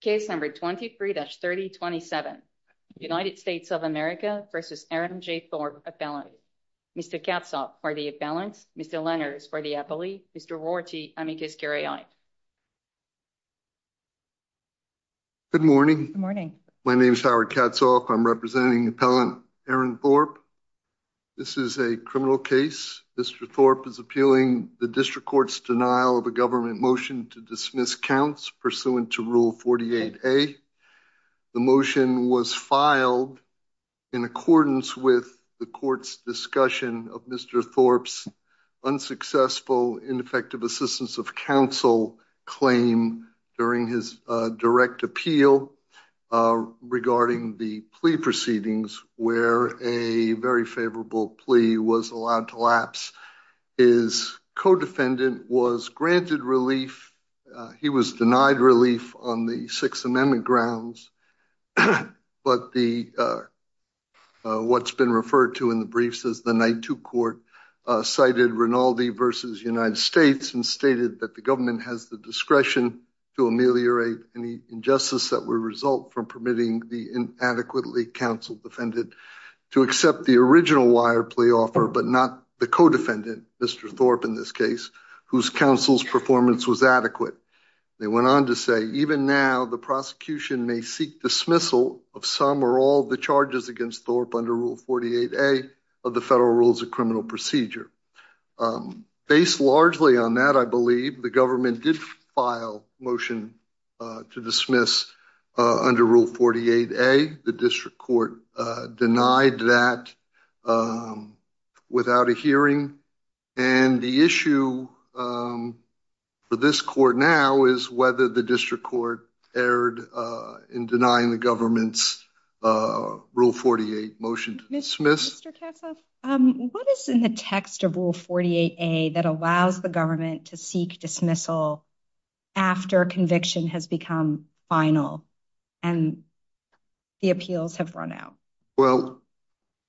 Case number 23-3027. United States of America v. Aaron J. Thorpe, Appellant. Mr. Katzhoff for the Appellants, Mr. Lenners for the Appellee, Mr. Rorty, I make this carry on. Good morning. Good morning. My name is Howard Katzhoff. I'm representing Appellant Aaron Thorpe. This is a criminal case. Mr. Thorpe is appealing the District Court's denial of a government motion to dismiss counts pursuant to Rule 48A. The motion was filed in accordance with the court's discussion of Mr. Thorpe's unsuccessful, ineffective assistance of counsel claim during his direct appeal regarding the plea proceedings where a very favorable relief on the Sixth Amendment grounds. But what's been referred to in the briefs is the Night Two Court cited Rinaldi v. United States and stated that the government has the discretion to ameliorate any injustice that would result from permitting the inadequately counsel defended to accept the original wire play offer but not the co-defendant, Mr. Thorpe in this case, whose counsel's performance was adequate. They went on to say even now the prosecution may seek dismissal of some or all the charges against Thorpe under Rule 48A of the federal rules of criminal procedure. Based largely on that, I believe the government did file motion to dismiss under Rule 48A. The District Court denied that without a hearing and the issue for this court now is whether the District Court erred in denying the government's Rule 48 motion to dismiss. Mr. Kassoff, what is in the text of Rule 48A that allows the government to seek dismissal after conviction has become final and the appeals have run out? Well,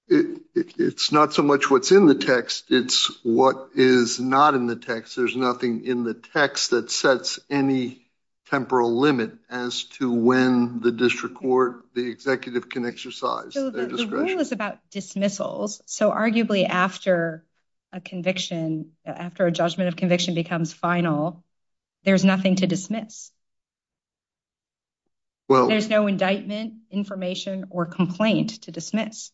it's not so much what's in the text, it's what is not in the text. There's nothing in the text that sets any temporal limit as to when the District Court, the executive, can exercise their discretion. The rule is about dismissals, so arguably after a conviction, after a judgment of conviction becomes final, there's nothing to dismiss. Well, there's no indictment, information, or complaint to dismiss.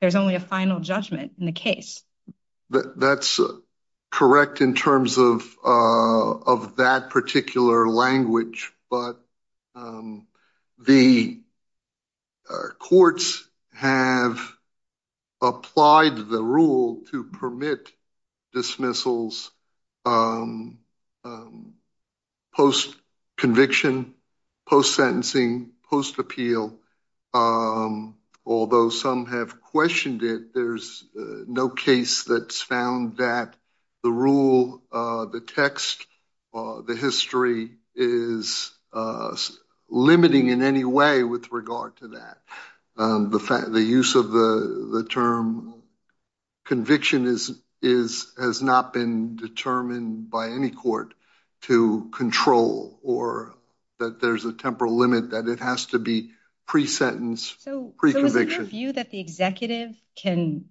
There's only a final judgment in the case. That's correct in terms of that particular language, but the courts have applied the rule to permit dismissals post-conviction, post-sentencing, post-appeal. Although some have questioned it, there's no case that's found that the rule, the text, the history is limiting in any way with regard to that. The use of the term conviction has not been determined by any court to control or that there's a temporal limit that it has to be pre-sentence, pre-conviction. Is there a view that the executive can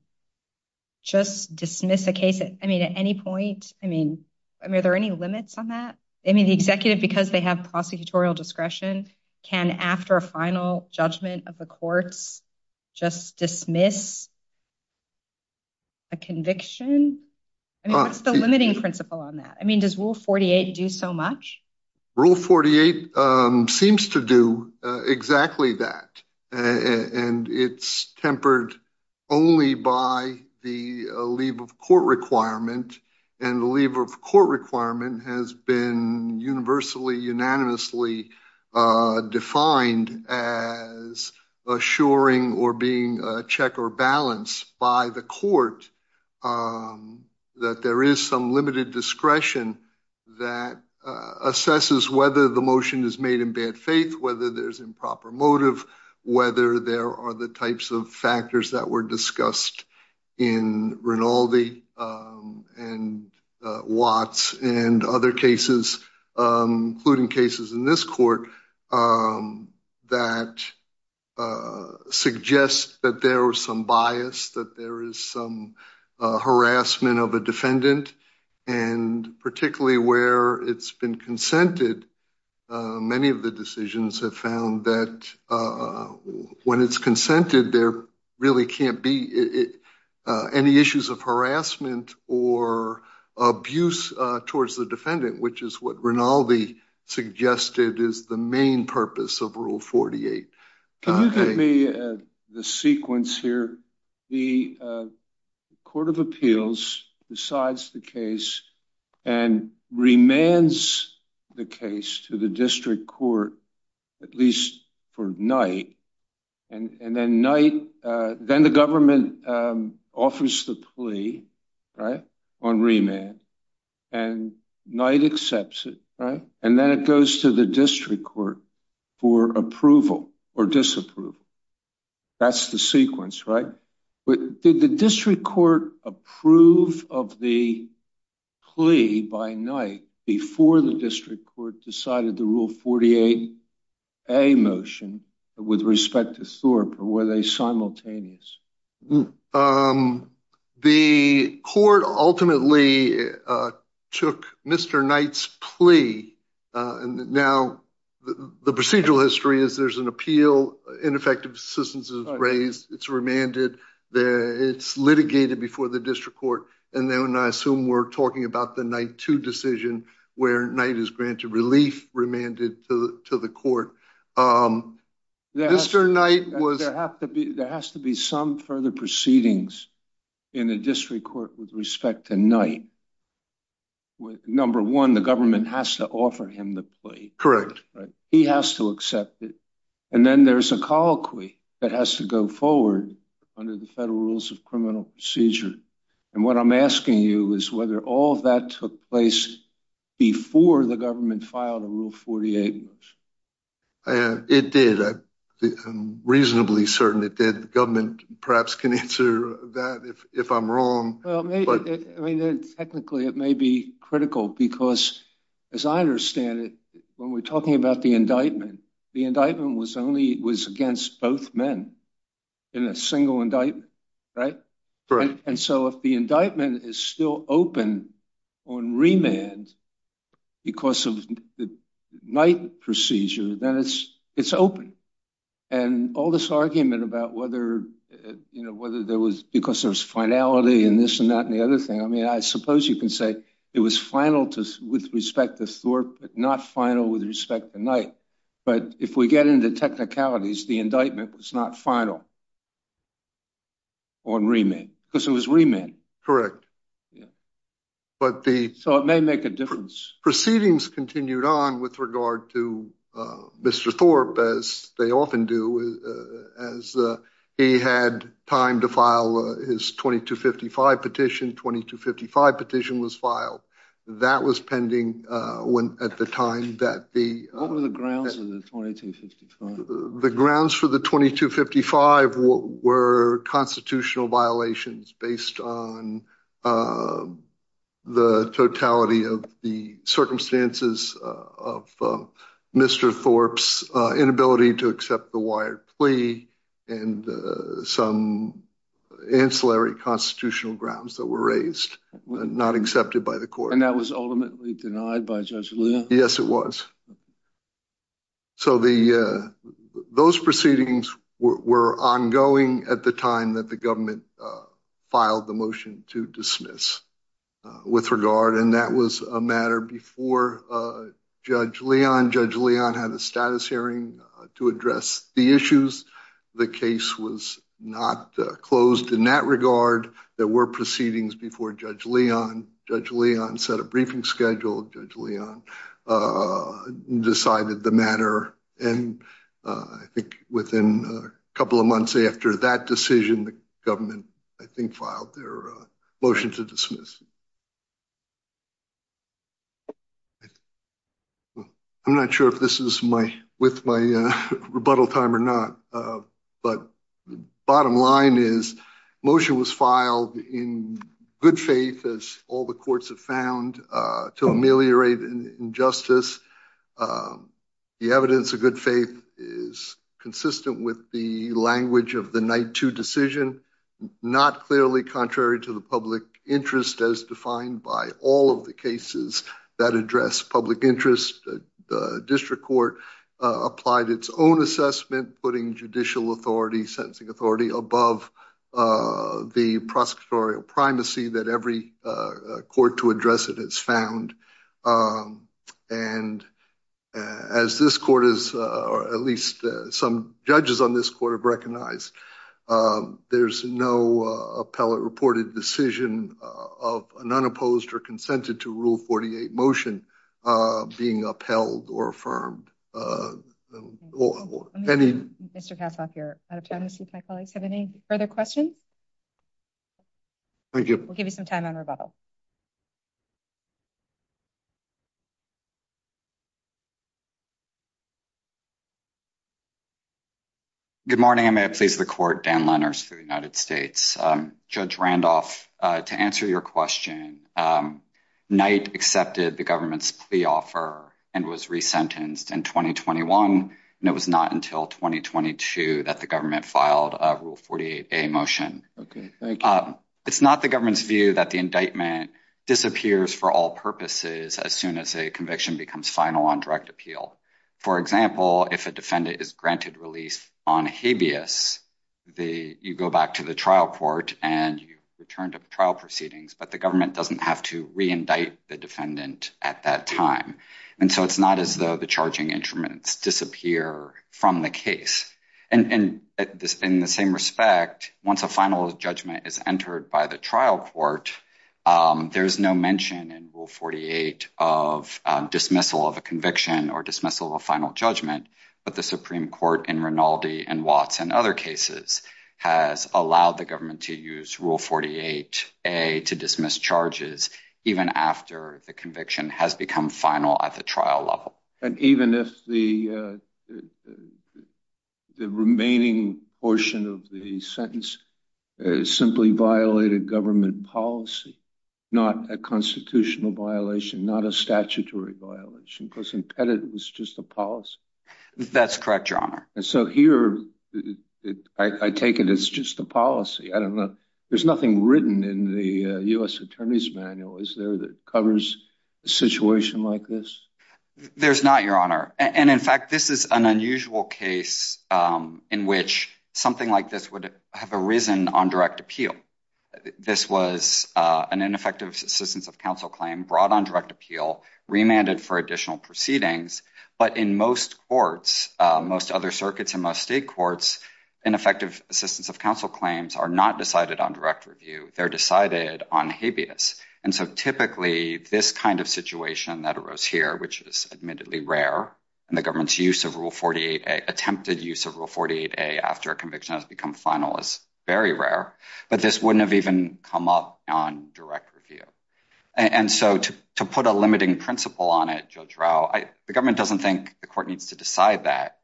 just dismiss a case at any point? Are there any limits on that? The executive, because they have prosecutorial discretion, can after a final judgment of the courts just dismiss a conviction? What's the limiting principle on that? Does Rule 48 do so much? Rule 48 seems to do exactly that. It's tempered only by the leave of court requirement. The leave of court requirement has been universally, unanimously defined as assuring or being a check or balance by the court that there is some limited discretion that assesses whether the motion is made in bad faith, whether there's improper motive, whether there are the types of factors that were discussed in Rinaldi and Watts and other cases, including cases in this court, that suggests that there was some bias, that there is some harassment of a defendant, and particularly where it's been consented, many of the decisions have found that when it's consented, there really can't be any issues of harassment or abuse towards the defendant, which is what Rinaldi suggested is the main purpose of Rule 48. Can you give me the sequence here? The Court of Appeals decides the case and remands the case to the district court, at least for night, and then the government offers the plea on remand, and Knight accepts it, right? And then it goes to the district court for approval or disapproval. That's the sequence, right? Did the district court approve of the plea by Knight before the district court decided the Rule 48A motion with respect to Thorpe, or were they simultaneous? The court ultimately took Mr. Knight's plea. Now, the procedural history is there's an appeal, ineffective assistance is raised, it's remanded, it's litigated before the district court, and then I assume we're talking about the night two decision where Knight is granted relief, remanded to the court. Mr. Knight was... There has to be some further proceedings in the district court with respect to Knight. Number one, the government has to offer him the plea. Correct. He has to accept it. And then there's a colloquy that has to go forward under the federal rules of criminal procedure. And what I'm asking you is whether all that took place before the government filed a Rule 48 motion. It did. I'm reasonably certain it did. The government perhaps can answer that if I'm wrong. Well, technically it may be critical because, as I understand it, when we're talking about the indictment, the indictment was against both men in a single indictment, right? Correct. And so if the indictment is still open on remand because of the Knight procedure, then it's open. And all this argument about whether there was... Because there's finality in this and that and the other thing. I mean, I suppose you can say it was final with respect to Thorpe, but not final with respect to Knight. But if we get into technicalities, the indictment was not final on remand because it was remand. So it may make a difference. Proceedings continued on with regard to Mr. Thorpe, as they often do, as he had time to file his 2255 petition. 2255 petition was filed. That was pending at the time that the... What were the grounds for the 2255? The grounds for the 2255 were constitutional violations based on the totality of the circumstances of Mr. Thorpe's inability to accept the Wired plea and some ancillary constitutional grounds that were raised, not accepted by the court. And that was ultimately denied by Judge Lear? Yes, it was. So those proceedings were ongoing at the time that the government filed the motion to dismiss with regard, and that was a matter before Judge Leon. Judge Leon had a status hearing to address the issues. The case was not closed in that regard. There were proceedings before Judge Leon. Judge Leon set a briefing schedule. Judge Leon decided the matter, and I think within a couple of months after that decision, the government, I think, filed their motion to dismiss. I'm not sure if this is with my rebuttal time or not, but the bottom line is the motion was filed in good faith, as all the courts have found, to ameliorate injustice. The evidence of good faith is consistent with the language of the Night 2 decision, not clearly contrary to the public interest as defined by all of the cases that address public interest. The district court applied its own assessment, putting judicial authority, sentencing authority above the prosecutorial primacy that every court to address it has found. And as this court has, or at least some judges on this court have recognized, there's no appellate reported decision of an unopposed or consented to Rule 48 motion being upheld or affirmed. Mr. Kassoff, you're out of time. I'm going to see if my colleagues have any further questions. Thank you. We'll give you some time on rebuttal. Good morning, and may it please the court, Dan Lenners for the United States. Judge Randolph, to answer your question, Knight accepted the government's plea offer and was resentenced in 2021. It was not until 2022 that the government filed a Rule 48A motion. It's not the government's view that the indictment disappears for all purposes as soon as a conviction becomes final on direct appeal. For example, if a defendant is granted release on habeas, you go back to the trial court and you return to the trial proceedings. But the government doesn't have to reindict the defendant at that time. And so it's not as though the charging instruments disappear from the case. And in the same respect, once a final judgment is entered by the trial court, there is no mention in Rule 48 of dismissal of a conviction or dismissal of a final judgment. But the Supreme Court in Rinaldi and Watts and other cases has allowed the government to use Rule 48A to dismiss charges even after the conviction has become final at the trial level. And even if the the remaining portion of the sentence simply violated government policy, not a constitutional violation, not a statutory violation, because impeded was just a policy. That's correct. And so here I take it. It's just the policy. I don't know. There's nothing written in the U.S. attorney's manual. Is there that covers a situation like this? There's not, Your Honor. And in fact, this is an unusual case in which something like this would have arisen on direct appeal. This was an ineffective assistance of counsel claim brought on direct appeal, remanded for additional proceedings. But in most courts, most other circuits and most state courts, ineffective assistance of counsel claims are not decided on direct review. They're decided on habeas. And so typically this kind of situation that arose here, which is admittedly rare in the government's use of Rule 48A, attempted use of Rule 48A after a conviction has become final is very rare. But this wouldn't have even come up on direct review. And so to to put a limiting principle on it, Judge Rao, the government doesn't think the court needs to decide that.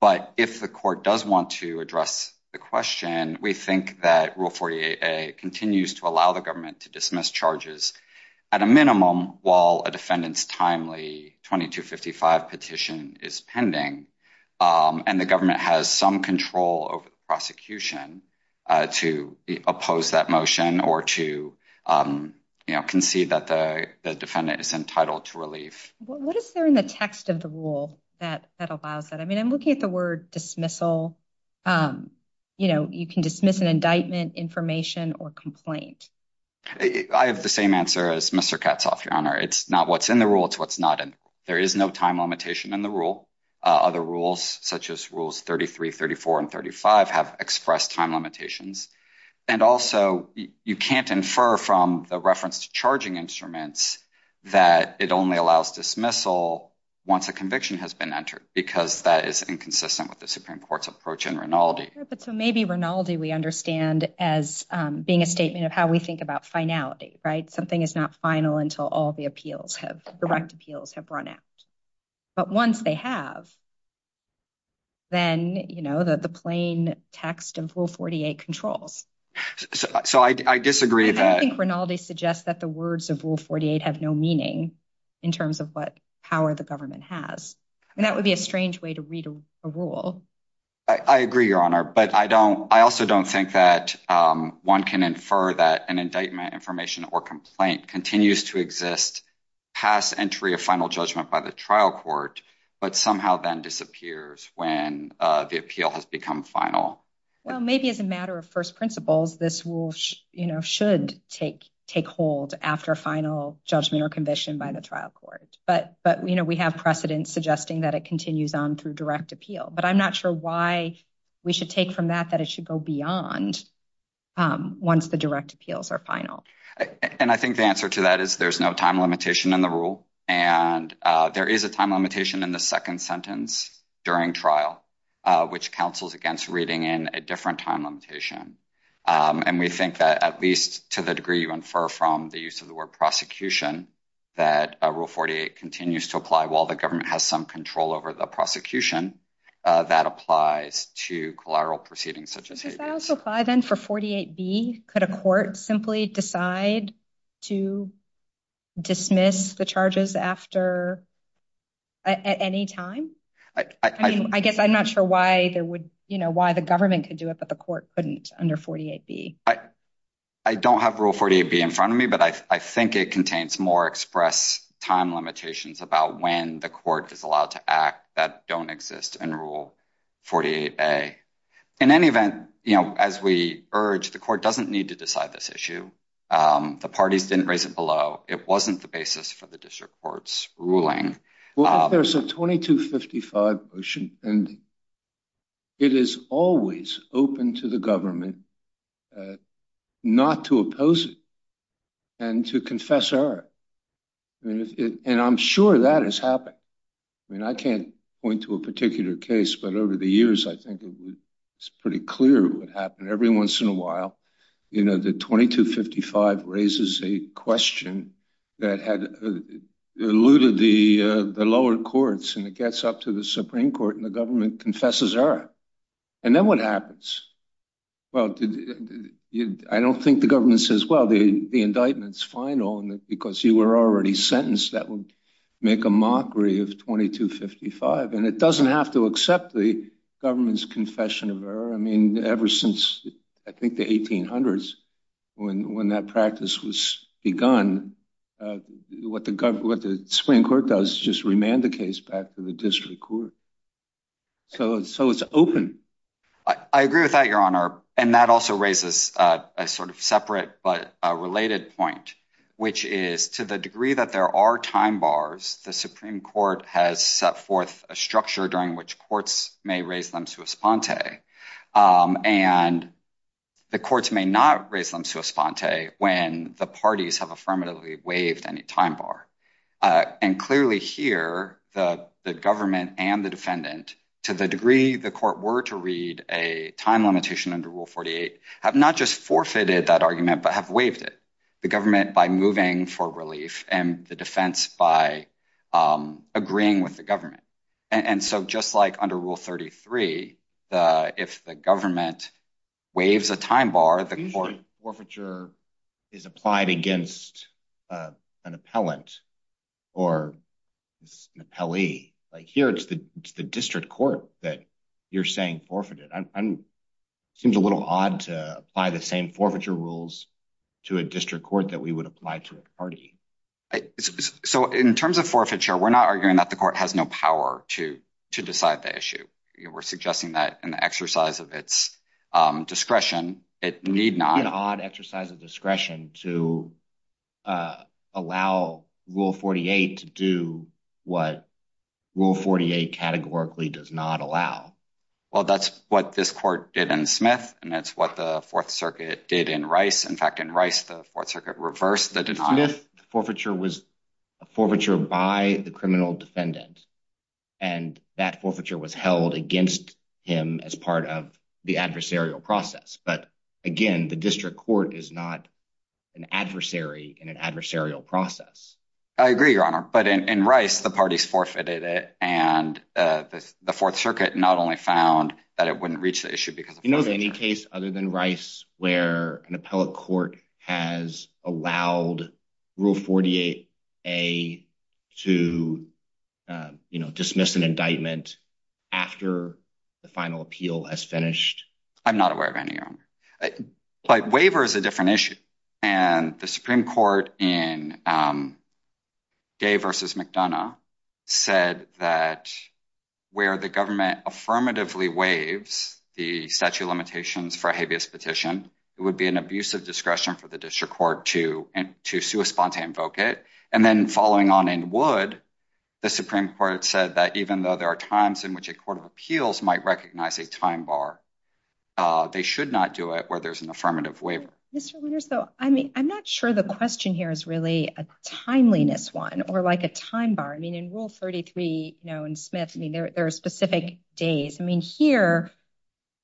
But if the court does want to address the question, we think that Rule 48A continues to allow the government to dismiss charges at a minimum while a defendant's timely 2255 petition is pending. And the government has some control over the prosecution to oppose that motion or to concede that the defendant is entitled to relief. What is there in the text of the rule that that allows that? I mean, I'm looking at the word dismissal. You know, you can dismiss an indictment, information or complaint. I have the same answer as Mr. Katzoff, Your Honor. It's not what's in the rule. It's what's not. And there is no time limitation in the rule. Other rules such as Rules 33, 34 and 35 have expressed time limitations. And also, you can't infer from the reference to charging instruments that it only allows dismissal once a conviction has been entered because that is inconsistent with the Supreme Court's approach in Rinaldi. But so maybe Rinaldi, we understand as being a statement of how we think about finality. Right. Something is not final until all the appeals have direct appeals have run out. But once they have. Then, you know, the plain text of Rule 48 controls. So I disagree that Rinaldi suggests that the words of Rule 48 have no meaning in terms of what power the government has. And that would be a strange way to read a rule. I agree, Your Honor. But I don't I also don't think that one can infer that an indictment, information or complaint continues to exist past entry of final judgment by the trial court. But somehow then disappears when the appeal has become final. Well, maybe as a matter of first principles, this will, you know, should take take hold after final judgment or conviction by the trial court. But but, you know, we have precedent suggesting that it continues on through direct appeal. But I'm not sure why we should take from that, that it should go beyond once the direct appeals are final. And I think the answer to that is there's no time limitation in the rule. And there is a time limitation in the second sentence during trial, which counsels against reading in a different time limitation. And we think that at least to the degree you infer from the use of the word prosecution, that Rule 48 continues to apply while the government has some control over the prosecution that applies to collateral proceedings such as. Then for 48 B, could a court simply decide to dismiss the charges after at any time? I mean, I guess I'm not sure why there would you know why the government could do it, but the court couldn't under 48 B. I don't have Rule 48 B in front of me, but I think it contains more express time limitations about when the court is allowed to act. That don't exist in Rule 48 A. In any event, you know, as we urge, the court doesn't need to decide this issue. The parties didn't raise it below. It wasn't the basis for the district court's ruling. Well, there's a 2255 motion and. It is always open to the government not to oppose it. And to confess error. And I'm sure that has happened. I mean, I can't point to a particular case, but over the years, I think it's pretty clear what happened every once in a while. You know, the 2255 raises a question that had alluded the lower courts and it gets up to the Supreme Court and the government confesses error. And then what happens? Well, I don't think the government says, well, the indictment's final because you were already sentenced. That would make a mockery of 2255. And it doesn't have to accept the government's confession of error. I mean, ever since I think the 1800s, when that practice was begun, what the Supreme Court does is just remand the case back to the district court. So it's so it's open. I agree with that, Your Honor. And that also raises a sort of separate but related point, which is to the degree that there are time bars. The Supreme Court has set forth a structure during which courts may raise them to a sponte. And the courts may not raise them to a sponte when the parties have affirmatively waived any time bar. And clearly here, the government and the defendant, to the degree the court were to read a time limitation under Rule 48, have not just forfeited that argument, but have waived it. The government by moving for relief and the defense by agreeing with the government. And so just like under Rule 33, if the government waives a time bar, the court forfeiture is applied against an appellant or an appellee. Like here, it's the district court that you're saying forfeited. And it seems a little odd to apply the same forfeiture rules to a district court that we would apply to a party. So in terms of forfeiture, we're not arguing that the court has no power to decide the issue. We're suggesting that in the exercise of its discretion, it need not… It's an odd exercise of discretion to allow Rule 48 to do what Rule 48 categorically does not allow. Well, that's what this court did in Smith, and that's what the Fourth Circuit did in Rice. In fact, in Rice, the Fourth Circuit reversed the denial. In Smith, the forfeiture was a forfeiture by the criminal defendant, and that forfeiture was held against him as part of the adversarial process. But again, the district court is not an adversary in an adversarial process. I agree, Your Honor, but in Rice, the parties forfeited it, and the Fourth Circuit not only found that it wouldn't reach the issue because… Do you know of any case other than Rice where an appellate court has allowed Rule 48A to dismiss an indictment after the final appeal has finished? I'm not aware of any, Your Honor. But waiver is a different issue, and the Supreme Court in Day v. McDonough said that where the government affirmatively waives the statute of limitations for a habeas petition, it would be an abuse of discretion for the district court to spontaneously invoke it. And then following on in Wood, the Supreme Court said that even though there are times in which a court of appeals might recognize a time bar, they should not do it where there's an affirmative waiver. Mr. Winters, though, I mean, I'm not sure the question here is really a timeliness one or like a time bar. I mean, in Rule 33, you know, in Smith, I mean, there are specific days. I mean, here,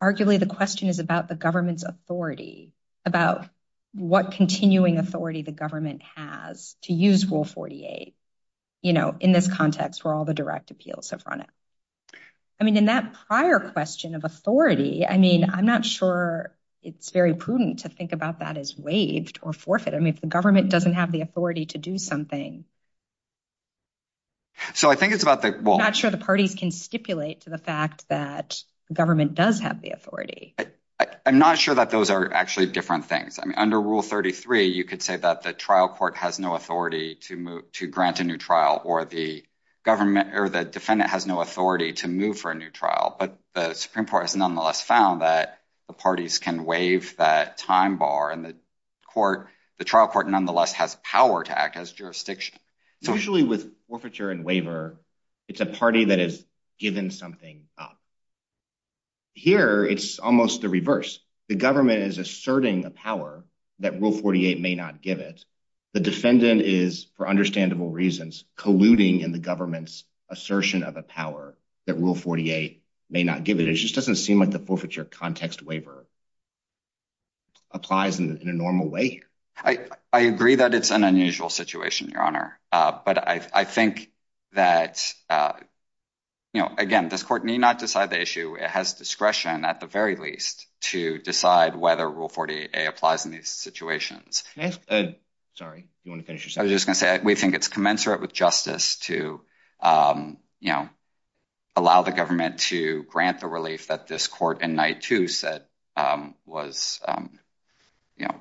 arguably the question is about the government's authority, about what continuing authority the government has to use Rule 48, you know, in this context where all the direct appeals have run out. I mean, in that prior question of authority, I mean, I'm not sure it's very prudent to think about that as waived or forfeited. I mean, if the government doesn't have the authority to do something. So I think it's about the not sure the parties can stipulate to the fact that government does have the authority. I'm not sure that those are actually different things. I mean, under Rule 33, you could say that the trial court has no authority to move to grant a new trial or the government or the defendant has no authority to move for a new trial. But the Supreme Court has nonetheless found that the parties can waive that time bar and the court, the trial court nonetheless has power to act as jurisdiction. So usually with forfeiture and waiver, it's a party that is given something up. Here, it's almost the reverse. The government is asserting a power that Rule 48 may not give it. The defendant is, for understandable reasons, colluding in the government's assertion of a power that Rule 48 may not give it. It just doesn't seem like the forfeiture context waiver applies in a normal way. I agree that it's an unusual situation, Your Honor. But I think that, you know, again, this court need not decide the issue. It has discretion at the very least to decide whether Rule 48 applies in these situations. Sorry, do you want to finish your sentence? I was just going to say, we think it's commensurate with justice to, you know, allow the government to grant the relief that this court in Night 2 said was, you know.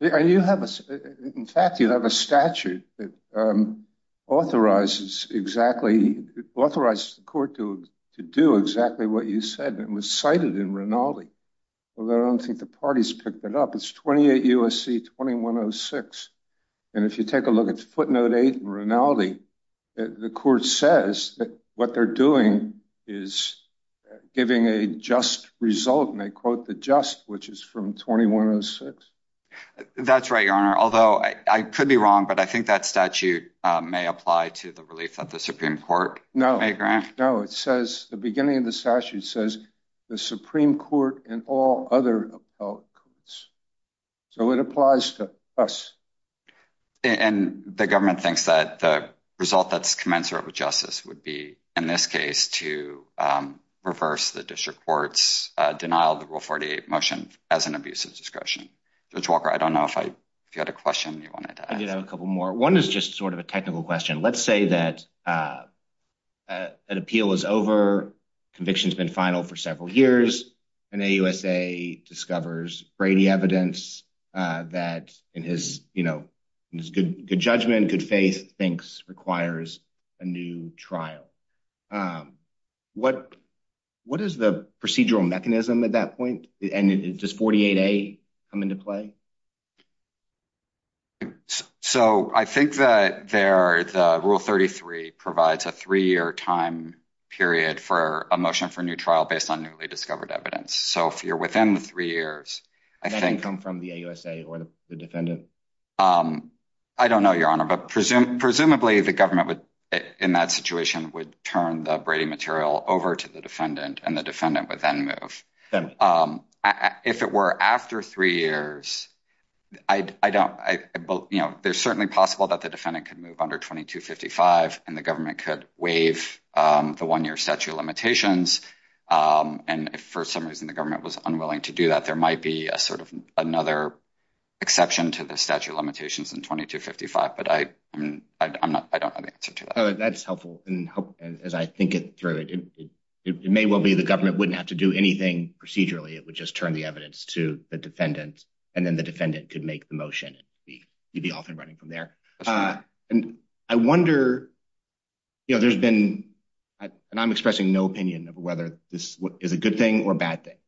In fact, you have a statute that authorizes the court to do exactly what you said. It was cited in Rinaldi. I don't think the parties picked it up. It's 28 U.S.C. 2106. And if you take a look at footnote 8 in Rinaldi, the court says that what they're doing is giving a just result, and they quote the just, which is from 2106. That's right, Your Honor, although I could be wrong, but I think that statute may apply to the relief that the Supreme Court may grant. No, it says, the beginning of the statute says, the Supreme Court and all other appellate courts. So it applies to us. And the government thinks that the result that's commensurate with justice would be, in this case, to reverse the district court's denial of the Rule 48 motion as an abusive discretion. Judge Walker, I don't know if you had a question you wanted to ask. I did have a couple more. One is just sort of a technical question. Let's say that an appeal is over, conviction's been final for several years, and AUSA discovers Brady evidence that, in his good judgment, good faith, thinks requires a new trial. What is the procedural mechanism at that point? And does 48A come into play? So I think that there, the Rule 33 provides a three-year time period for a motion for new trial based on newly discovered evidence. So if you're within the three years, I think… Does that come from the AUSA or the defendant? I don't know, Your Honor, but presumably, the government would, in that situation, would turn the Brady material over to the defendant, and the defendant would then move. If it were after three years, I don't… You know, there's certainly possible that the defendant could move under 2255, and the government could waive the one-year statute of limitations. And if, for some reason, the government was unwilling to do that, there might be a sort of another exception to the statute of limitations in 2255, but I don't know the answer to that. That's helpful. And as I think it through, it may well be the government wouldn't have to do anything procedurally. It would just turn the evidence to the defendant, and then the defendant could make the motion. You'd be off and running from there. And I wonder, you know, there's been… And I'm expressing no opinion of whether this is a good thing or a bad thing,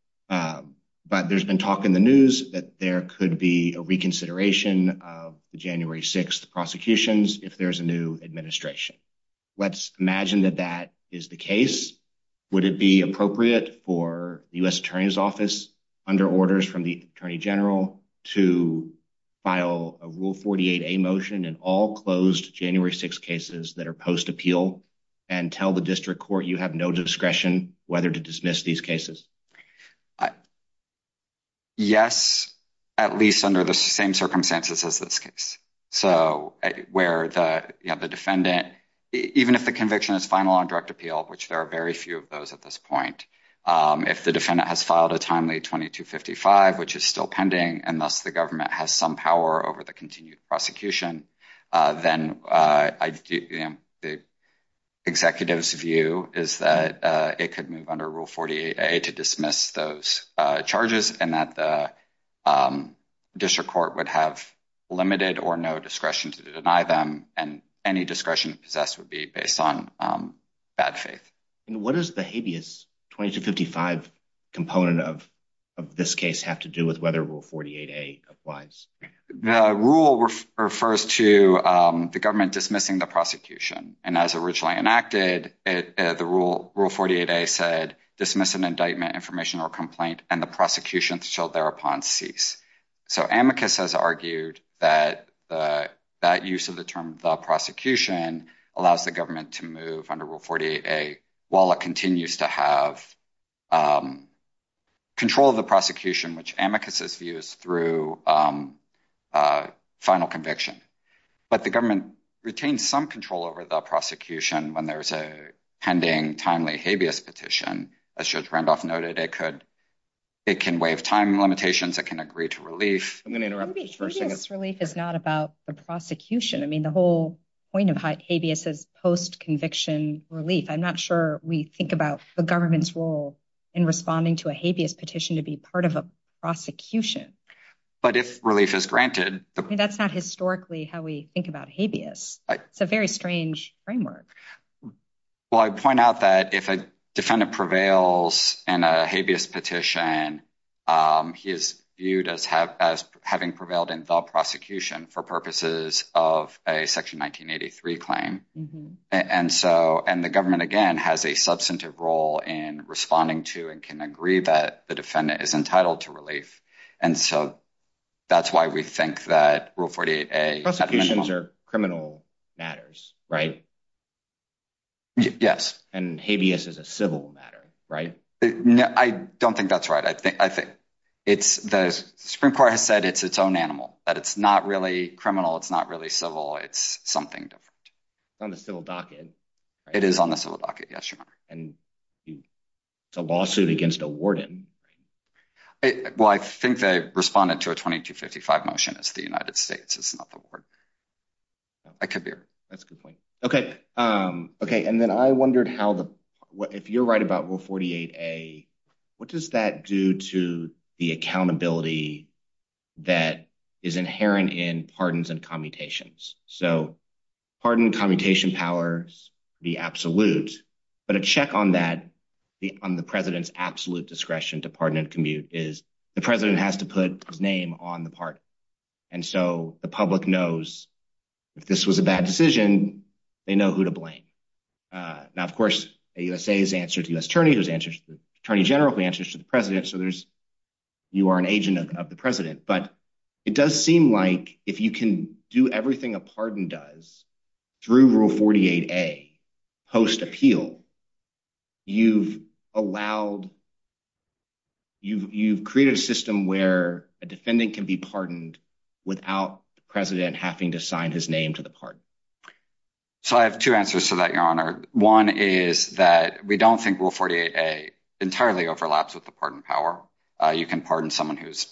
but there's been talk in the news that there could be a reconsideration of the January 6th prosecutions if there's a new administration. Let's imagine that that is the case. Would it be appropriate for the U.S. Attorney's Office, under orders from the Attorney General, to file a Rule 48a motion in all closed January 6th cases that are post-appeal and tell the district court you have no discretion whether to dismiss these cases? Yes, at least under the same circumstances as this case. So, where the defendant, even if the conviction is final on direct appeal, which there are very few of those at this point, if the defendant has filed a timely 2255, which is still pending, and thus the government has some power over the continued prosecution, then the executive's view is that it could move under Rule 48a to dismiss those charges and that the district court would have limited or no discretion to deny them, and any discretion possessed would be based on bad faith. And what does the habeas 2255 component of this case have to do with whether Rule 48a applies? The rule refers to the government dismissing the prosecution. And as originally enacted, the Rule 48a said, dismiss an indictment, information, or complaint, and the prosecution shall thereupon cease. So, Amicus has argued that that use of the term the prosecution allows the government to move under Rule 48a while it continues to have control of the prosecution, which Amicus's view is through final conviction. But the government retains some control over the prosecution when there's a pending, timely habeas petition. As Judge Randolph noted, it can waive time limitations, it can agree to relief. Habeas relief is not about the prosecution. I mean, the whole point of habeas is post-conviction relief. I'm not sure we think about the government's role in responding to a habeas petition to be part of a prosecution. But if relief is granted... That's not historically how we think about habeas. It's a very strange framework. Well, I point out that if a defendant prevails in a habeas petition, he is viewed as having prevailed in the prosecution for purposes of a Section 1983 claim. And the government, again, has a substantive role in responding to and can agree that the defendant is entitled to relief. And so that's why we think that Rule 48a… Prosecutions are criminal matters, right? Yes. And habeas is a civil matter, right? I don't think that's right. I think it's – the Supreme Court has said it's its own animal, that it's not really criminal. It's not really civil. It's something different. It's on the civil docket. It is on the civil docket, yes, Your Honor. And it's a lawsuit against a warden. Well, I think they responded to a 2255 motion. It's the United States. It's not the ward. I could be wrong. That's a good point. Okay. Okay, and then I wondered how the – if you're right about Rule 48a, what does that do to the accountability that is inherent in pardons and commutations? So pardon and commutation powers would be absolute, but a check on that, on the president's absolute discretion to pardon and commute, is the president has to put his name on the pardon. And so the public knows if this was a bad decision, they know who to blame. Now, of course, the USA has answered to the U.S. Attorney, who has answered to the Attorney General, who has answered to the president, so there's – you are an agent of the president. But it does seem like if you can do everything a pardon does through Rule 48a post-appeal, you've allowed – you've created a system where a defendant can be pardoned without the president having to sign his name to the pardon. So I have two answers to that, Your Honor. One is that we don't think Rule 48a entirely overlaps with the pardon power. You can pardon someone who's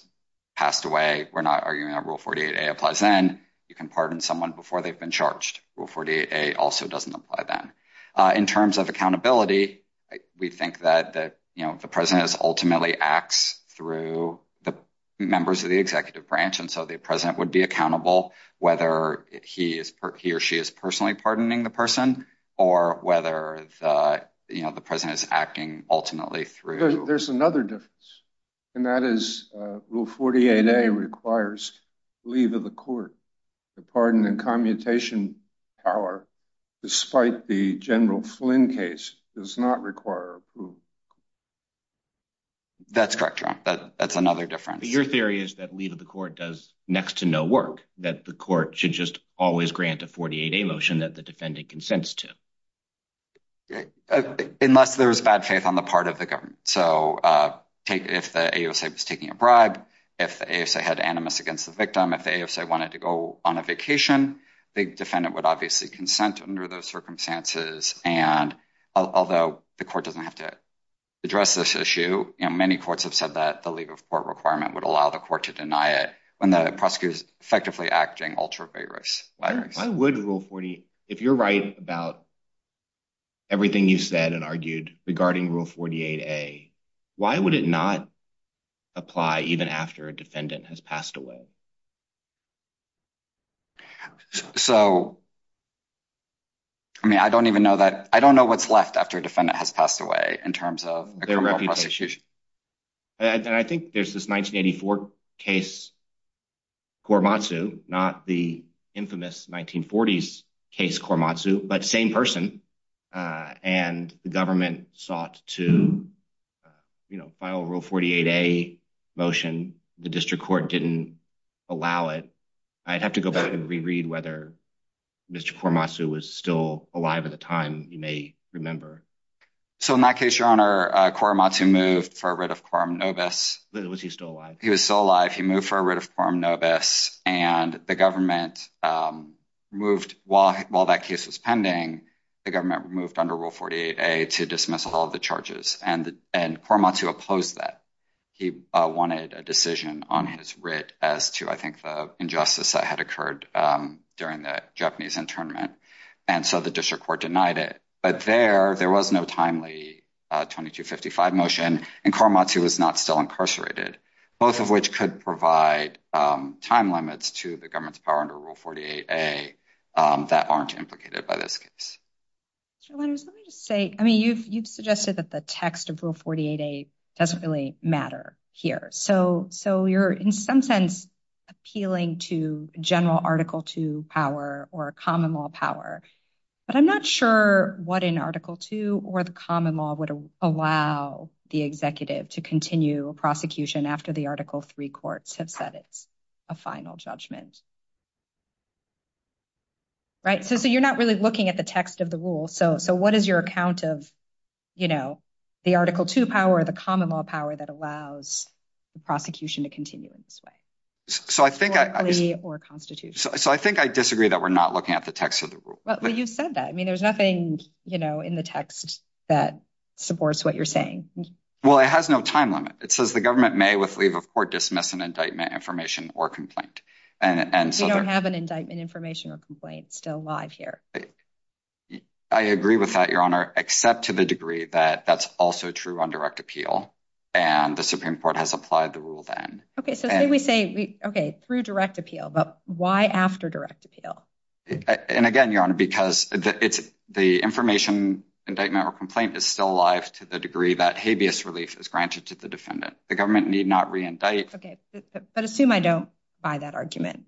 passed away. We're not arguing that Rule 48a applies then. You can pardon someone before they've been charged. Rule 48a also doesn't apply then. In terms of accountability, we think that the president ultimately acts through the members of the executive branch, and so the president would be accountable whether he or she is personally pardoning the person or whether the president is acting ultimately through – There's another difference, and that is Rule 48a requires leave of the court. The pardon and commutation power, despite the General Flynn case, does not require approval. That's correct, Your Honor. That's another difference. But your theory is that leave of the court does next to no work, that the court should just always grant a 48a motion that the defendant consents to. Unless there's bad faith on the part of the government. So if the AOSA was taking a bribe, if the AOSA had animus against the victim, if the AOSA wanted to go on a vacation, the defendant would obviously consent under those circumstances. And although the court doesn't have to address this issue, many courts have said that the leave of court requirement would allow the court to deny it when the prosecutor is effectively acting ultravarious. Why would Rule 48 – if you're right about everything you said and argued regarding Rule 48a, why would it not apply even after a defendant has passed away? So, I mean, I don't even know that – I don't know what's left after a defendant has passed away in terms of a criminal prosecution. I think there's this 1984 case, Korematsu, not the infamous 1940s case Korematsu, but same person. And the government sought to, you know, file a Rule 48a motion. The district court didn't allow it. I'd have to go back and reread whether Mr. Korematsu was still alive at the time. You may remember. So, in that case, Your Honor, Korematsu moved for a writ of quorum nobis. Was he still alive? He was still alive. He moved for a writ of quorum nobis. And the government moved – while that case was pending, the government moved under Rule 48a to dismiss all of the charges. And Korematsu opposed that. He wanted a decision on his writ as to, I think, the injustice that had occurred during the Japanese internment. And so the district court denied it. But there, there was no timely 2255 motion, and Korematsu was not still incarcerated, both of which could provide time limits to the government's power under Rule 48a that aren't implicated by this case. Mr. Lenders, let me just say, I mean, you've suggested that the text of Rule 48a doesn't really matter here. So you're, in some sense, appealing to general Article II power or common law power. But I'm not sure what in Article II or the common law would allow the executive to continue a prosecution after the Article III courts have said it's a final judgment. Right? So you're not really looking at the text of the rule. So what is your account of, you know, the Article II power, the common law power that allows the prosecution to continue in this way? So I think I disagree that we're not looking at the text of the rule. Well, you've said that. I mean, there's nothing, you know, in the text that supports what you're saying. Well, it has no time limit. It says the government may with leave of court dismiss an indictment, information or complaint. We don't have an indictment, information or complaint still live here. I agree with that, Your Honor, except to the degree that that's also true on direct appeal. And the Supreme Court has applied the rule then. OK, so we say, OK, through direct appeal. But why after direct appeal? And again, Your Honor, because it's the information indictment or complaint is still alive to the degree that habeas relief is granted to the defendant. The government need not reindict. OK, but assume I don't buy that argument.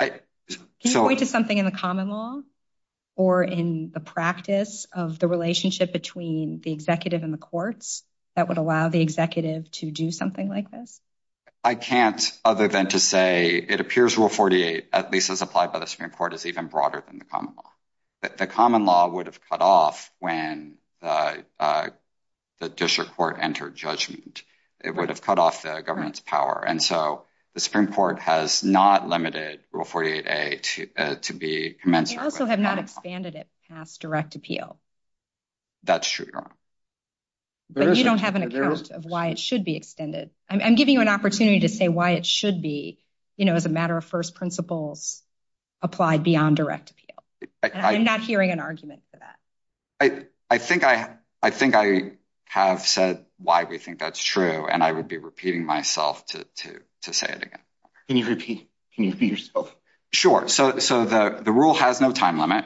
Can you point to something in the common law or in the practice of the relationship between the executive and the courts that would allow the executive to do something like this? I can't other than to say it appears rule 48, at least as applied by the Supreme Court, is even broader than the common law. The common law would have cut off when the district court entered judgment. It would have cut off the government's power. And so the Supreme Court has not limited rule 48A to be commensurate. They also have not expanded it past direct appeal. That's true, Your Honor. But you don't have an account of why it should be extended. I'm giving you an opportunity to say why it should be, you know, as a matter of first principles, applied beyond direct appeal. I'm not hearing an argument for that. I think I have said why we think that's true, and I would be repeating myself to say it again. Can you repeat yourself? Sure. So the rule has no time limit.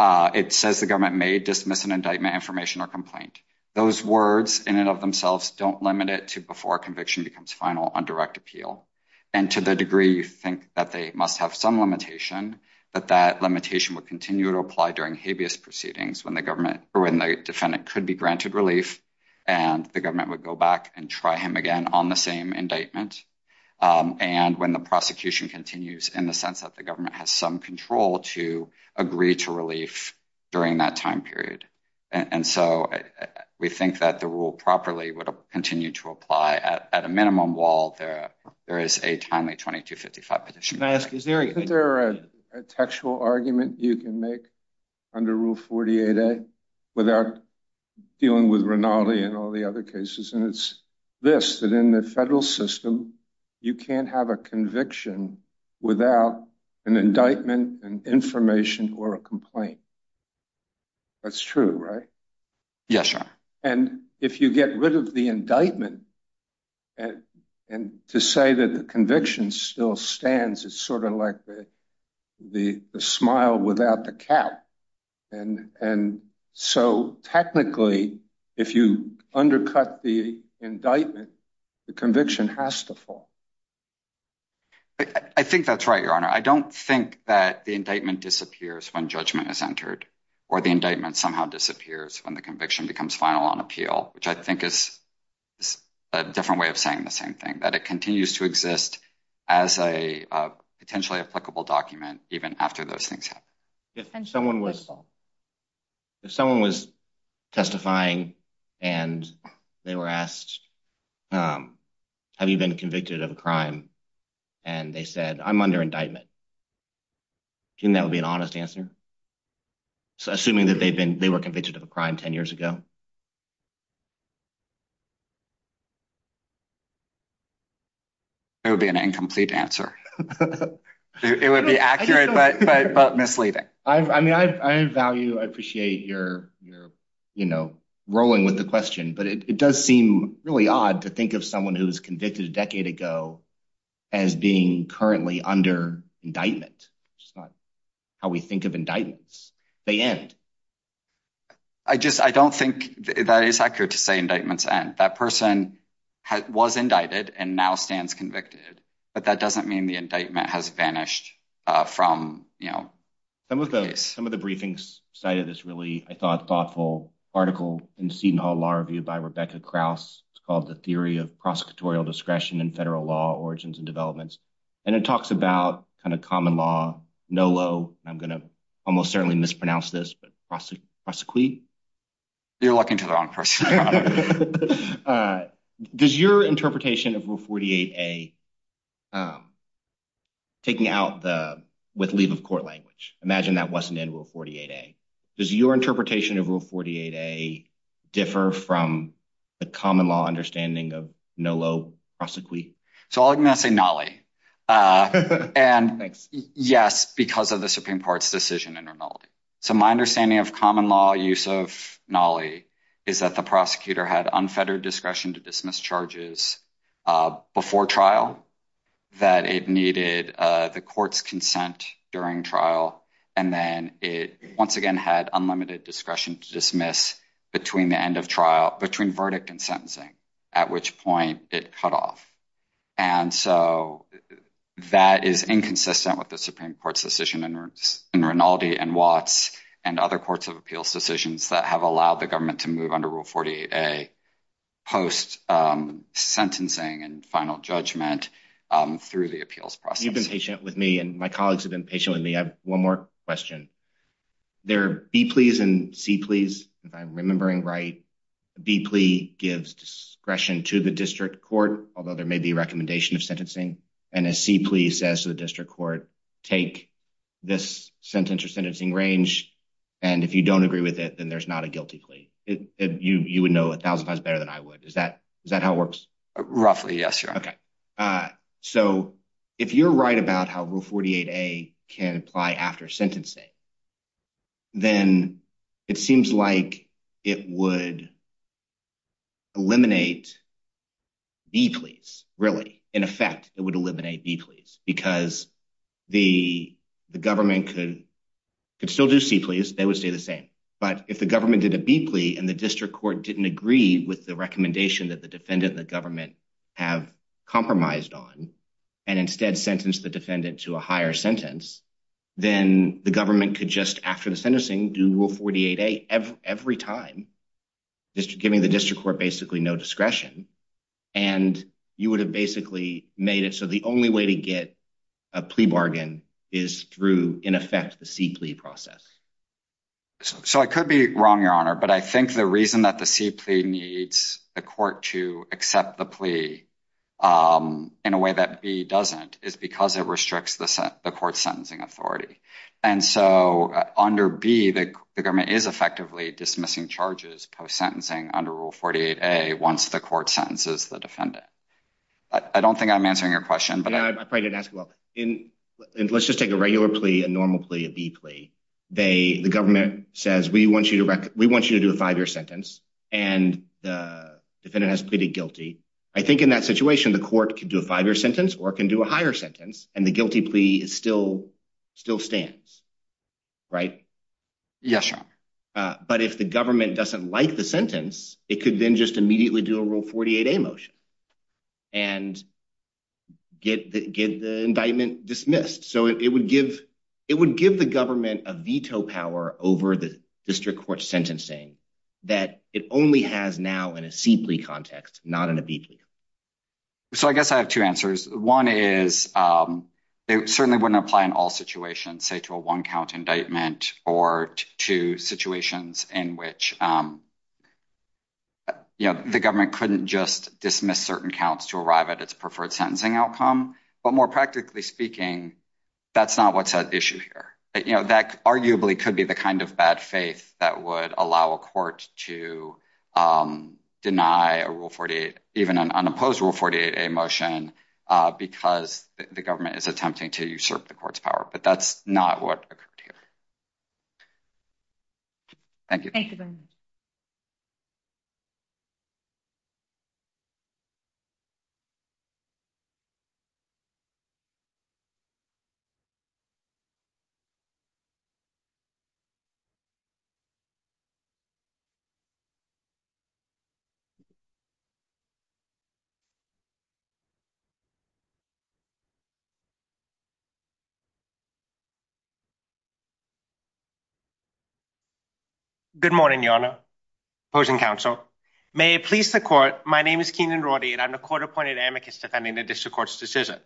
It says the government may dismiss an indictment, information or complaint. Those words in and of themselves don't limit it to before conviction becomes final on direct appeal. And to the degree you think that they must have some limitation, that that limitation would continue to apply during habeas proceedings when the government or when the defendant could be granted relief. And the government would go back and try him again on the same indictment. And when the prosecution continues in the sense that the government has some control to agree to relief during that time period. And so we think that the rule properly would continue to apply at a minimum while there is a timely 2255 petition. May I ask, is there a textual argument you can make under Rule 48A without dealing with Rinaldi and all the other cases? And it's this, that in the federal system, you can't have a conviction without an indictment and information or a complaint. That's true, right? Yes. And if you get rid of the indictment and to say that the conviction still stands, it's sort of like the the smile without the cap. And and so technically, if you undercut the indictment, the conviction has to fall. I think that's right, Your Honor, I don't think that the indictment disappears when judgment is entered or the indictment somehow disappears when the conviction becomes final on appeal, which I think is a different way of saying the same thing, that it continues to exist as a potentially applicable document. If someone was testifying and they were asked, have you been convicted of a crime? And they said, I'm under indictment. And that would be an honest answer, assuming that they've been they were convicted of a crime 10 years ago. It would be an incomplete answer. It would be accurate, but misleading. I mean, I value, I appreciate your, you know, rolling with the question, but it does seem really odd to think of someone who was convicted a decade ago as being currently under indictment. It's not how we think of indictments. They end. I just I don't think that is accurate to say indictments and that person was indicted and now stands convicted, but that doesn't mean the indictment has vanished from, you know. Some of the some of the briefings cited this really, I thought, thoughtful article in Seton Hall Law Review by Rebecca Krauss called the theory of prosecutorial discretion and federal law origins and developments. And it talks about kind of common law, NOLO. I'm going to almost certainly mispronounce this, but prosecute. You're looking to the wrong person. Does your interpretation of Rule 48A, taking out the with leave of court language, imagine that wasn't in Rule 48A. Does your interpretation of Rule 48A differ from the common law understanding of NOLO, prosecute? So I'm going to say NOLO. And yes, because of the Supreme Court's decision in NOLO. So my understanding of common law use of NOLO is that the prosecutor had unfettered discretion to dismiss charges before trial, that it needed the court's consent during trial. And then it once again had unlimited discretion to dismiss between the end of trial, between verdict and sentencing, at which point it cut off. And so that is inconsistent with the Supreme Court's decision in Rinaldi and Watts and other courts of appeals decisions that have allowed the government to move under Rule 48A post sentencing and final judgment through the appeals process. You've been patient with me and my colleagues have been patient with me. I have one more question. There are B pleas and C pleas, if I'm remembering right. B plea gives discretion to the district court, although there may be a recommendation of sentencing. And a C plea says to the district court, take this sentence or sentencing range. And if you don't agree with it, then there's not a guilty plea. You would know a thousand times better than I would. Is that is that how it works? Roughly, yes. Okay. So if you're right about how Rule 48A can apply after sentencing, then it seems like it would eliminate B pleas, really. In effect, it would eliminate B pleas because the government could still do C pleas, they would stay the same. But if the government did a B plea and the district court didn't agree with the recommendation that the defendant, the government have compromised on and instead sentence the defendant to a higher sentence, then the government could just after the sentencing, do Rule 48A every time. Just giving the district court basically no discretion and you would have basically made it. So the only way to get a plea bargain is through, in effect, the C plea process. So I could be wrong, Your Honor, but I think the reason that the C plea needs the court to accept the plea in a way that B doesn't is because it restricts the court sentencing authority. And so under B, the government is effectively dismissing charges post-sentencing under Rule 48A once the court sentences the defendant. I don't think I'm answering your question. Let's just take a regular plea, a normal plea, a B plea. The government says, we want you to do a five-year sentence, and the defendant has pleaded guilty. I think in that situation, the court can do a five-year sentence or can do a higher sentence, and the guilty plea still stands, right? Yes, Your Honor. But if the government doesn't like the sentence, it could then just immediately do a Rule 48A motion and get the indictment dismissed. So it would give the government a veto power over the district court sentencing that it only has now in a C plea context, not in a B plea. So I guess I have two answers. One is it certainly wouldn't apply in all situations, say, to a one-count indictment or to situations in which the government couldn't just dismiss certain counts to arrive at its preferred sentencing outcome. But more practically speaking, that's not what's at issue here. That arguably could be the kind of bad faith that would allow a court to deny a Rule 48, even an unopposed Rule 48A motion, because the government is attempting to usurp the court's power. But that's not what occurred here. Thank you. Good morning, Your Honor, opposing counsel. May it please the court, my name is Keenan Rorty, and I'm the court-appointed amicus defending the district court's decision.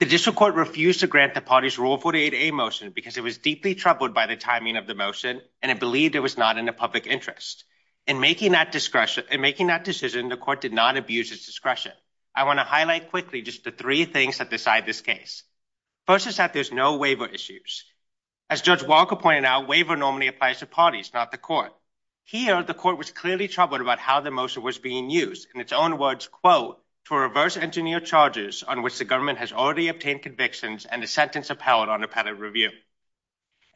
The district court refused to grant the party's Rule 48A motion because it was deeply troubled by the timing of the motion and it believed it was not in the public interest. In making that decision, the court did not abuse its discretion. I want to highlight quickly just the three things that decide this case. First is that there's no waiver issues. As Judge Walker pointed out, waiver normally applies to parties, not the court. Here, the court was clearly troubled about how the motion was being used, in its own words, quote, to reverse engineer charges on which the government has already obtained convictions and the sentence upheld on appellate review.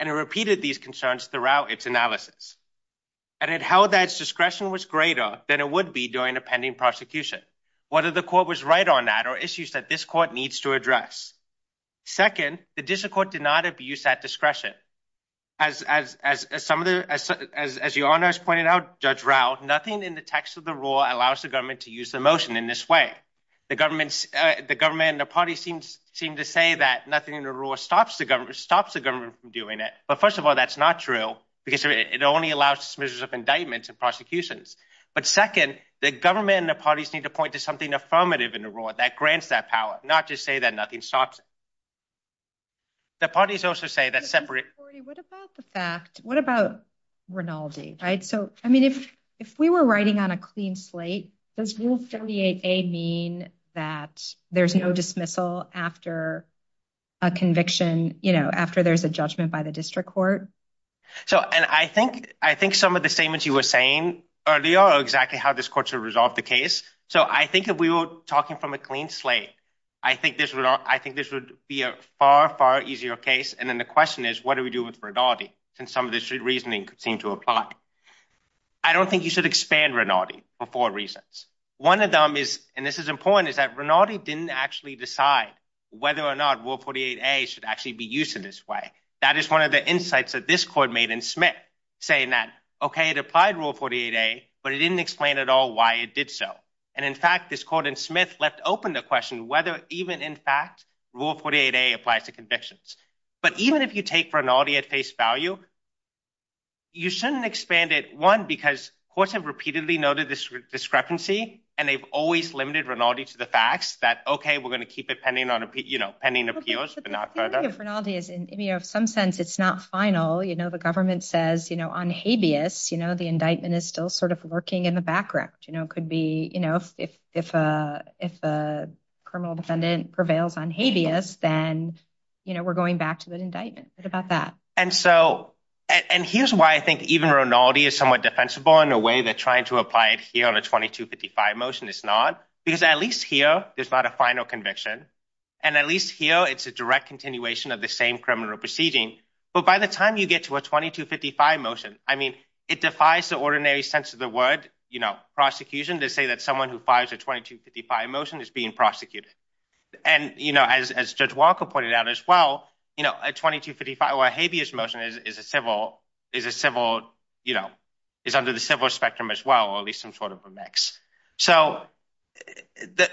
And it repeated these concerns throughout its analysis. And it held that its discretion was greater than it would be during a pending prosecution. Whether the court was right on that are issues that this court needs to address. Second, the district court did not abuse that discretion. As your Honor has pointed out, Judge Rau, nothing in the text of the rule allows the government to use the motion in this way. The government and the parties seem to say that nothing in the rule stops the government from doing it. But first of all, that's not true because it only allows dismissals of indictments and prosecutions. But second, the government and the parties need to point to something affirmative in the rule that grants that power, not just say that nothing stops it. The parties also say that separate. What about the fact? What about Rinaldi? Right. So, I mean, if if we were writing on a clean slate, this will create a mean that there's no dismissal after a conviction, you know, after there's a judgment by the district court. So and I think I think some of the same as you were saying earlier, exactly how this court to resolve the case. So I think if we were talking from a clean slate, I think this would I think this would be a far, far easier case. And then the question is, what do we do with Rinaldi? And some of the reasoning seem to apply. I don't think you should expand Rinaldi for four reasons. One of them is and this is important, is that Rinaldi didn't actually decide whether or not World 48 should actually be used in this way. That is one of the insights that this court made in Smith saying that, OK, it applied World 48A, but it didn't explain at all why it did so. And in fact, this court in Smith left open the question whether even in fact World 48A applies to convictions. But even if you take Rinaldi at face value. You shouldn't expand it one because courts have repeatedly noted this discrepancy and they've always limited Rinaldi to the facts that, OK, we're going to keep it pending on, you know, pending appeals. Rinaldi is in some sense, it's not final. You know, the government says, you know, on habeas, you know, the indictment is still sort of lurking in the background. You know, it could be, you know, if if if a criminal defendant prevails on habeas, then, you know, we're going back to the indictment about that. And so and here's why I think even Rinaldi is somewhat defensible in a way that trying to apply it here on a 2255 motion is not because at least here there's not a final conviction. And at least here, it's a direct continuation of the same criminal proceeding. But by the time you get to a 2255 motion, I mean, it defies the ordinary sense of the word, you know, prosecution to say that someone who fires a 2255 motion is being prosecuted. And, you know, as Judge Walker pointed out as well, you know, a 2255 habeas motion is a civil is a civil, you know, is under the civil spectrum as well, or at least some sort of a mix. So that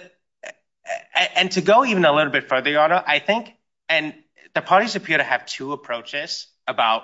and to go even a little bit further, I think, and the parties appear to have two approaches about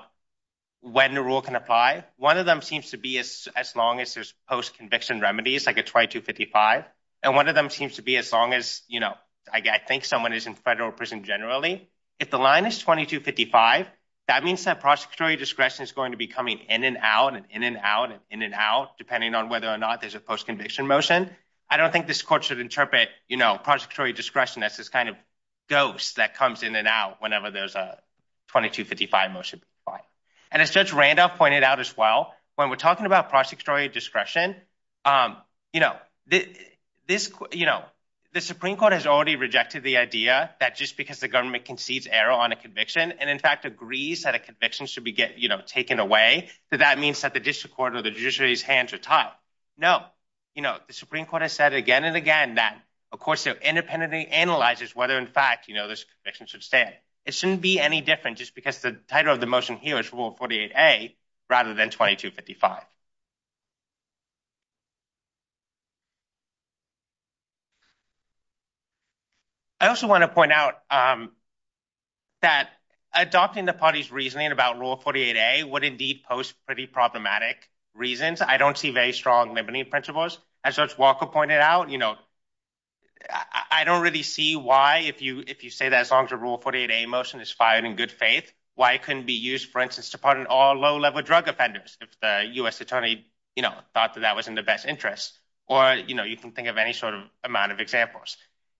when the rule can apply. One of them seems to be as long as there's post conviction remedies like a 2255. And one of them seems to be as long as, you know, I think someone is in federal prison generally. If the line is 2255, that means that prosecutorial discretion is going to be coming in and out and in and out and in and out, depending on whether or not there's a post conviction motion. I don't think this court should interpret, you know, prosecutorial discretion as this kind of ghost that comes in and out whenever there's a 2255 motion. And as Judge Randolph pointed out as well, when we're talking about prosecutorial discretion, you know, this, you know, the Supreme Court has already rejected the idea that just because the government concedes error on a conviction and, in fact, agrees that a conviction should be, you know, taken away. That means that the district court or the judiciary's hands are tied. No, no, you know, the Supreme Court has said again and again that, of course, independently analyzes whether, in fact, you know, this conviction should stand. It shouldn't be any different just because the title of the motion here is Rule 48A rather than 2255. I also want to point out that adopting the party's reasoning about Rule 48A would indeed post pretty problematic reasons. I don't see very strong limiting principles. As Judge Walker pointed out, you know, I don't really see why if you if you say that as long as a Rule 48A motion is fired in good faith, why it couldn't be used, for instance, to pardon all low level drug offenders if the U.S. attorney, you know, thought that that was in the best interest. Or, you know, you can think of any sort of amount of examples.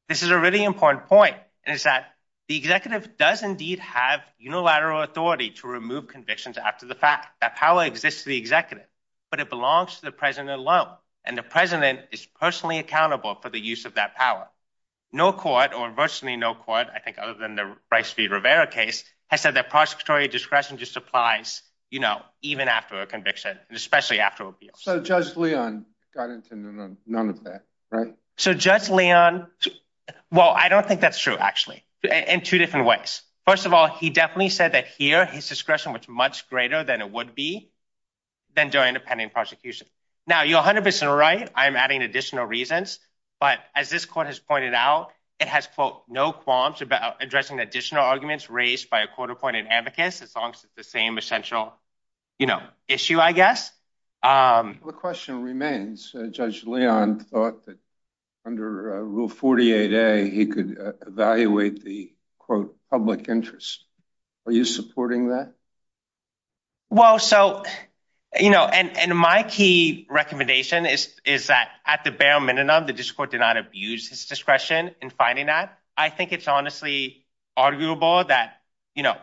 This is a really important point, and it's that the executive does indeed have unilateral authority to remove convictions after the fact. That power exists to the executive, but it belongs to the president alone. And the president is personally accountable for the use of that power. No court or virtually no court, I think, other than the Rice v. Rivera case, has said that prosecutorial discretion just applies, you know, even after a conviction, especially after appeals. So Judge Leon got into none of that, right? So Judge Leon, well, I don't think that's true, actually, in two different ways. First of all, he definitely said that here his discretion was much greater than it would be than during independent prosecution. Now, you're 100 percent right. I'm adding additional reasons. But as this court has pointed out, it has, quote, no qualms about addressing additional arguments raised by a court appointed advocates as long as it's the same essential, you know, issue, I guess. The question remains, Judge Leon thought that under Rule 48A, he could evaluate the, quote, public interest. Are you supporting that? Well, so, you know, and my key recommendation is is that at the bare minimum, the district court did not abuse his discretion in finding that. I think it's honestly arguable that, you know,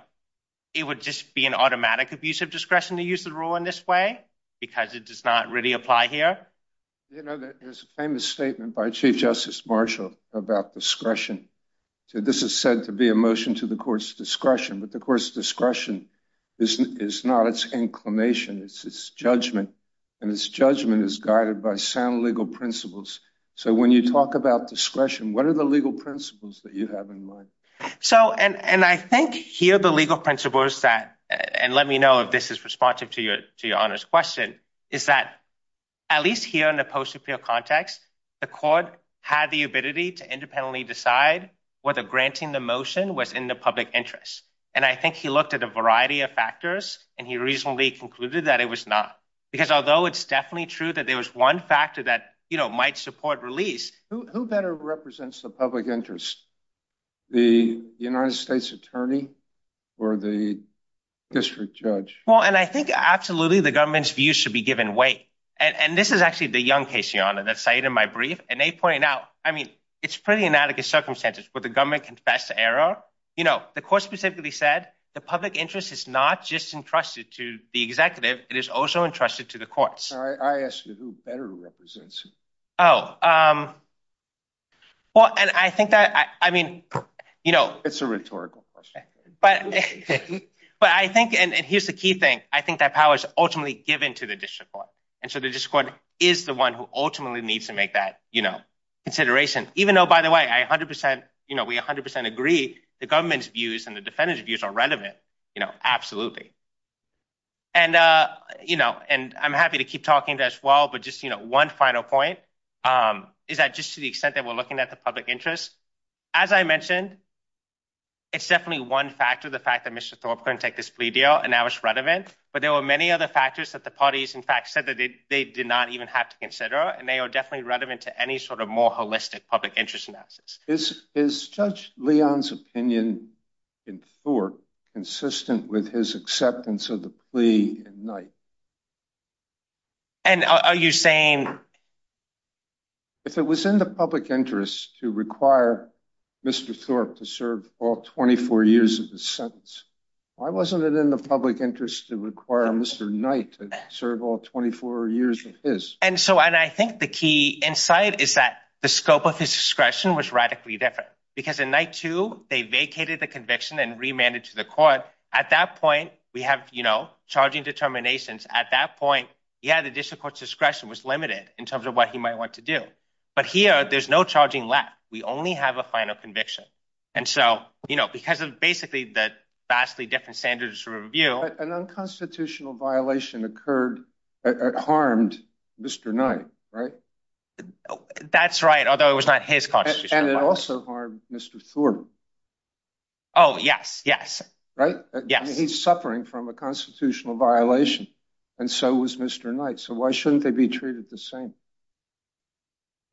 it would just be an automatic abuse of discretion to use the rule in this way because it does not really apply here. You know, there's a famous statement by Chief Justice Marshall about discretion. So this is said to be a motion to the court's discretion. But the court's discretion is not its inclination. It's its judgment, and its judgment is guided by sound legal principles. So when you talk about discretion, what are the legal principles that you have in mind? So and I think here the legal principles that and let me know if this is responsive to your to your honor's question is that at least here in the post appeal context, the court had the ability to independently decide whether granting the motion was in the public interest. And I think he looked at a variety of factors and he reasonably concluded that it was not because although it's definitely true that there was one factor that, you know, might support release. Who better represents the public interest? The United States attorney or the district judge? Well, and I think absolutely the government's view should be given way. And this is actually the young case. And they point out, I mean, it's pretty inadequate circumstances, but the government confessed to error. You know, the court specifically said the public interest is not just entrusted to the executive. It is also entrusted to the courts. I asked you who better represents. Oh, well, and I think that I mean, you know, it's a rhetorical question, but but I think and here's the key thing. I think that power is ultimately given to the district court. And so the district court is the one who ultimately needs to make that, you know, consideration, even though, by the way, I 100 percent, you know, we 100 percent agree the government's views and the defendant's views are relevant. You know, absolutely. And, you know, and I'm happy to keep talking as well, but just, you know, one final point is that just to the extent that we're looking at the public interest, as I mentioned. It's definitely one factor, the fact that Mr. Thorpe couldn't take this plea deal and now it's relevant. But there were many other factors that the parties, in fact, said that they did not even have to consider. And they are definitely relevant to any sort of more holistic public interest analysis. Is Judge Leon's opinion in Thorpe consistent with his acceptance of the plea in Knight? And are you saying. If it was in the public interest to require Mr. Thorpe to serve all 24 years of his sentence, why wasn't it in the public interest to require Mr. Knight to serve all 24 years of his? And so and I think the key insight is that the scope of his discretion was radically different because in night two, they vacated the conviction and remanded to the court. So at that point, we have, you know, charging determinations at that point. Yeah, the district court discretion was limited in terms of what he might want to do. But here there's no charging left. We only have a final conviction. And so, you know, because of basically that vastly different standards review, an unconstitutional violation occurred. It harmed Mr. Knight. Right. That's right. Although it was not his cause. And it also harmed Mr. Thorpe. Oh, yes. Right. Yes. He's suffering from a constitutional violation. And so was Mr. Knight. So why shouldn't they be treated the same?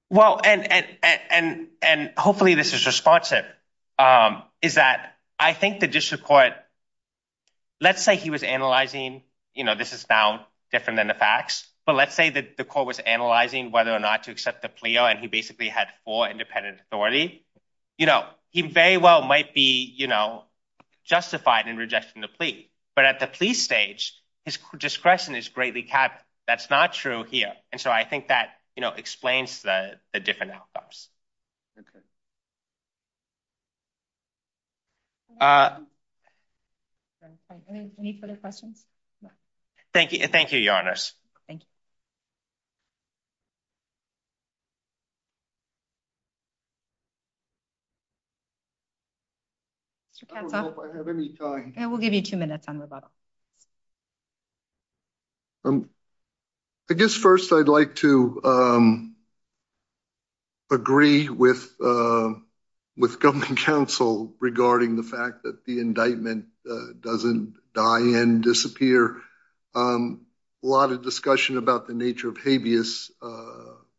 Well, and and and hopefully this is responsive is that I think the district court. Let's say he was analyzing, you know, this is now different than the facts. But let's say that the court was analyzing whether or not to accept the plea. And he basically had for independent authority. You know, he very well might be, you know, justified in rejecting the plea. But at the police stage, his discretion is greatly capped. That's not true here. And so I think that, you know, explains the different outcomes. Thank you. Thank you, Your Honor. Thank you. We'll give you two minutes on rebuttal. I guess first, I'd like to. Agree with with government counsel regarding the fact that the indictment doesn't die and disappear. A lot of discussion about the nature of habeas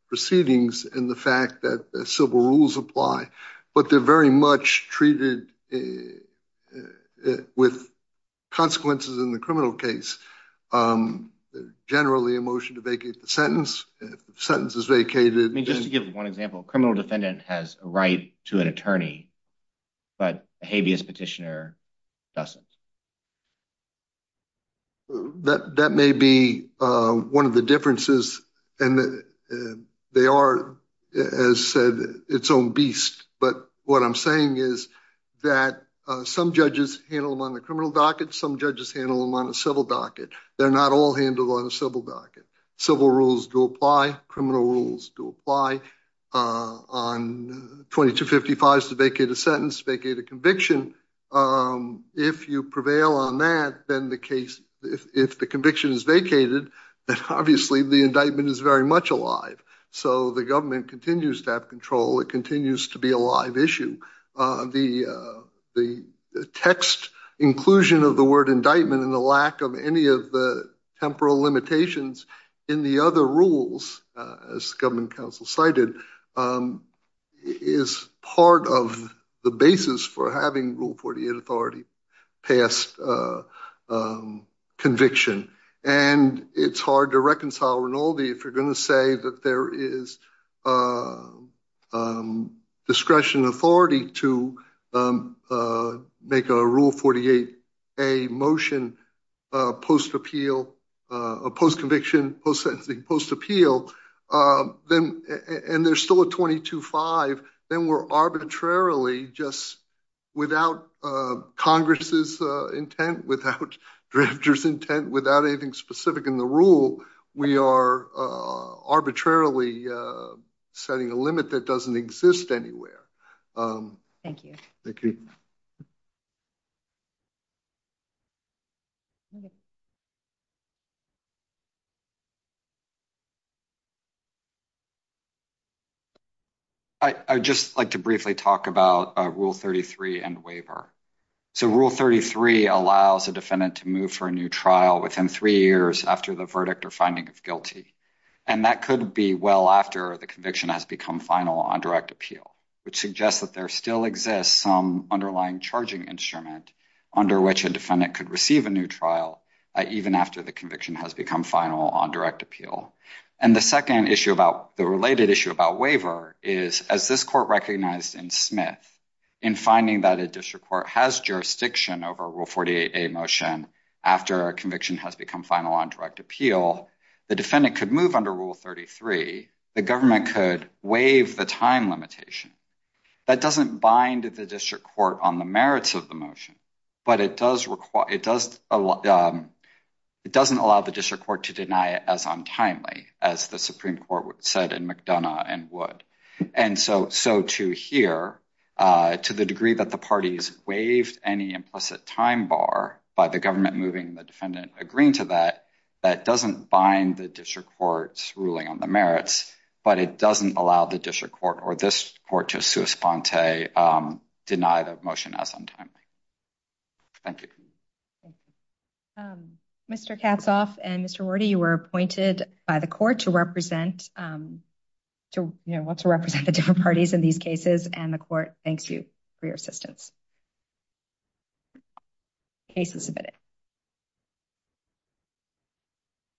proceedings and the fact that civil rules apply. But they're very much treated with consequences in the criminal case. Generally, a motion to vacate the sentence sentence is vacated. I mean, just to give one example, criminal defendant has a right to an attorney. But habeas petitioner doesn't. That may be one of the differences. And they are, as said, its own beast. But what I'm saying is that some judges handle them on the criminal docket. Some judges handle them on a civil docket. They're not all handled on a civil docket. Civil rules do apply. Criminal rules do apply on 2255 to vacate a sentence, vacate a conviction. If you prevail on that, then the case, if the conviction is vacated, obviously the indictment is very much alive. So the government continues to have control. It continues to be a live issue. The text inclusion of the word indictment and the lack of any of the temporal limitations in the other rules, as government counsel cited, is part of the basis for having Rule 48 authority pass conviction. And it's hard to reconcile Rinaldi if you're going to say that there is discretion and authority to make a Rule 48A motion post-appeal, post-conviction, post-sentencing, post-appeal. And there's still a 22-5. Then we're arbitrarily, just without Congress' intent, without drafters' intent, without anything specific in the rule, we are arbitrarily setting a limit that doesn't exist anywhere. Thank you. Thank you. I would just like to briefly talk about Rule 33 and waiver. So Rule 33 allows a defendant to move for a new trial within three years after the verdict or finding of guilty. And that could be well after the conviction has become final on direct appeal, which suggests that there still exists some underlying charging instrument under which a defendant could receive a new trial even after the conviction has become final on direct appeal. And the second issue about, the related issue about waiver is, as this court recognized in Smith, in finding that a district court has jurisdiction over a Rule 48A motion after a conviction has become final on direct appeal, the defendant could move under Rule 33. The government could waive the time limitation. That doesn't bind the district court on the merits of the motion, but it doesn't allow the district court to deny it as untimely, as the Supreme Court said in McDonough and Wood. And so to here, to the degree that the parties waived any implicit time bar by the government moving the defendant agreeing to that, that doesn't bind the district court's ruling on the merits, but it doesn't allow the district court or this court to sui sponte deny the motion as untimely. Thank you. Mr. Katzoff and Mr. Rorty, you were appointed by the court to represent the different parties in these cases, and the court thanks you for your assistance. Case is submitted.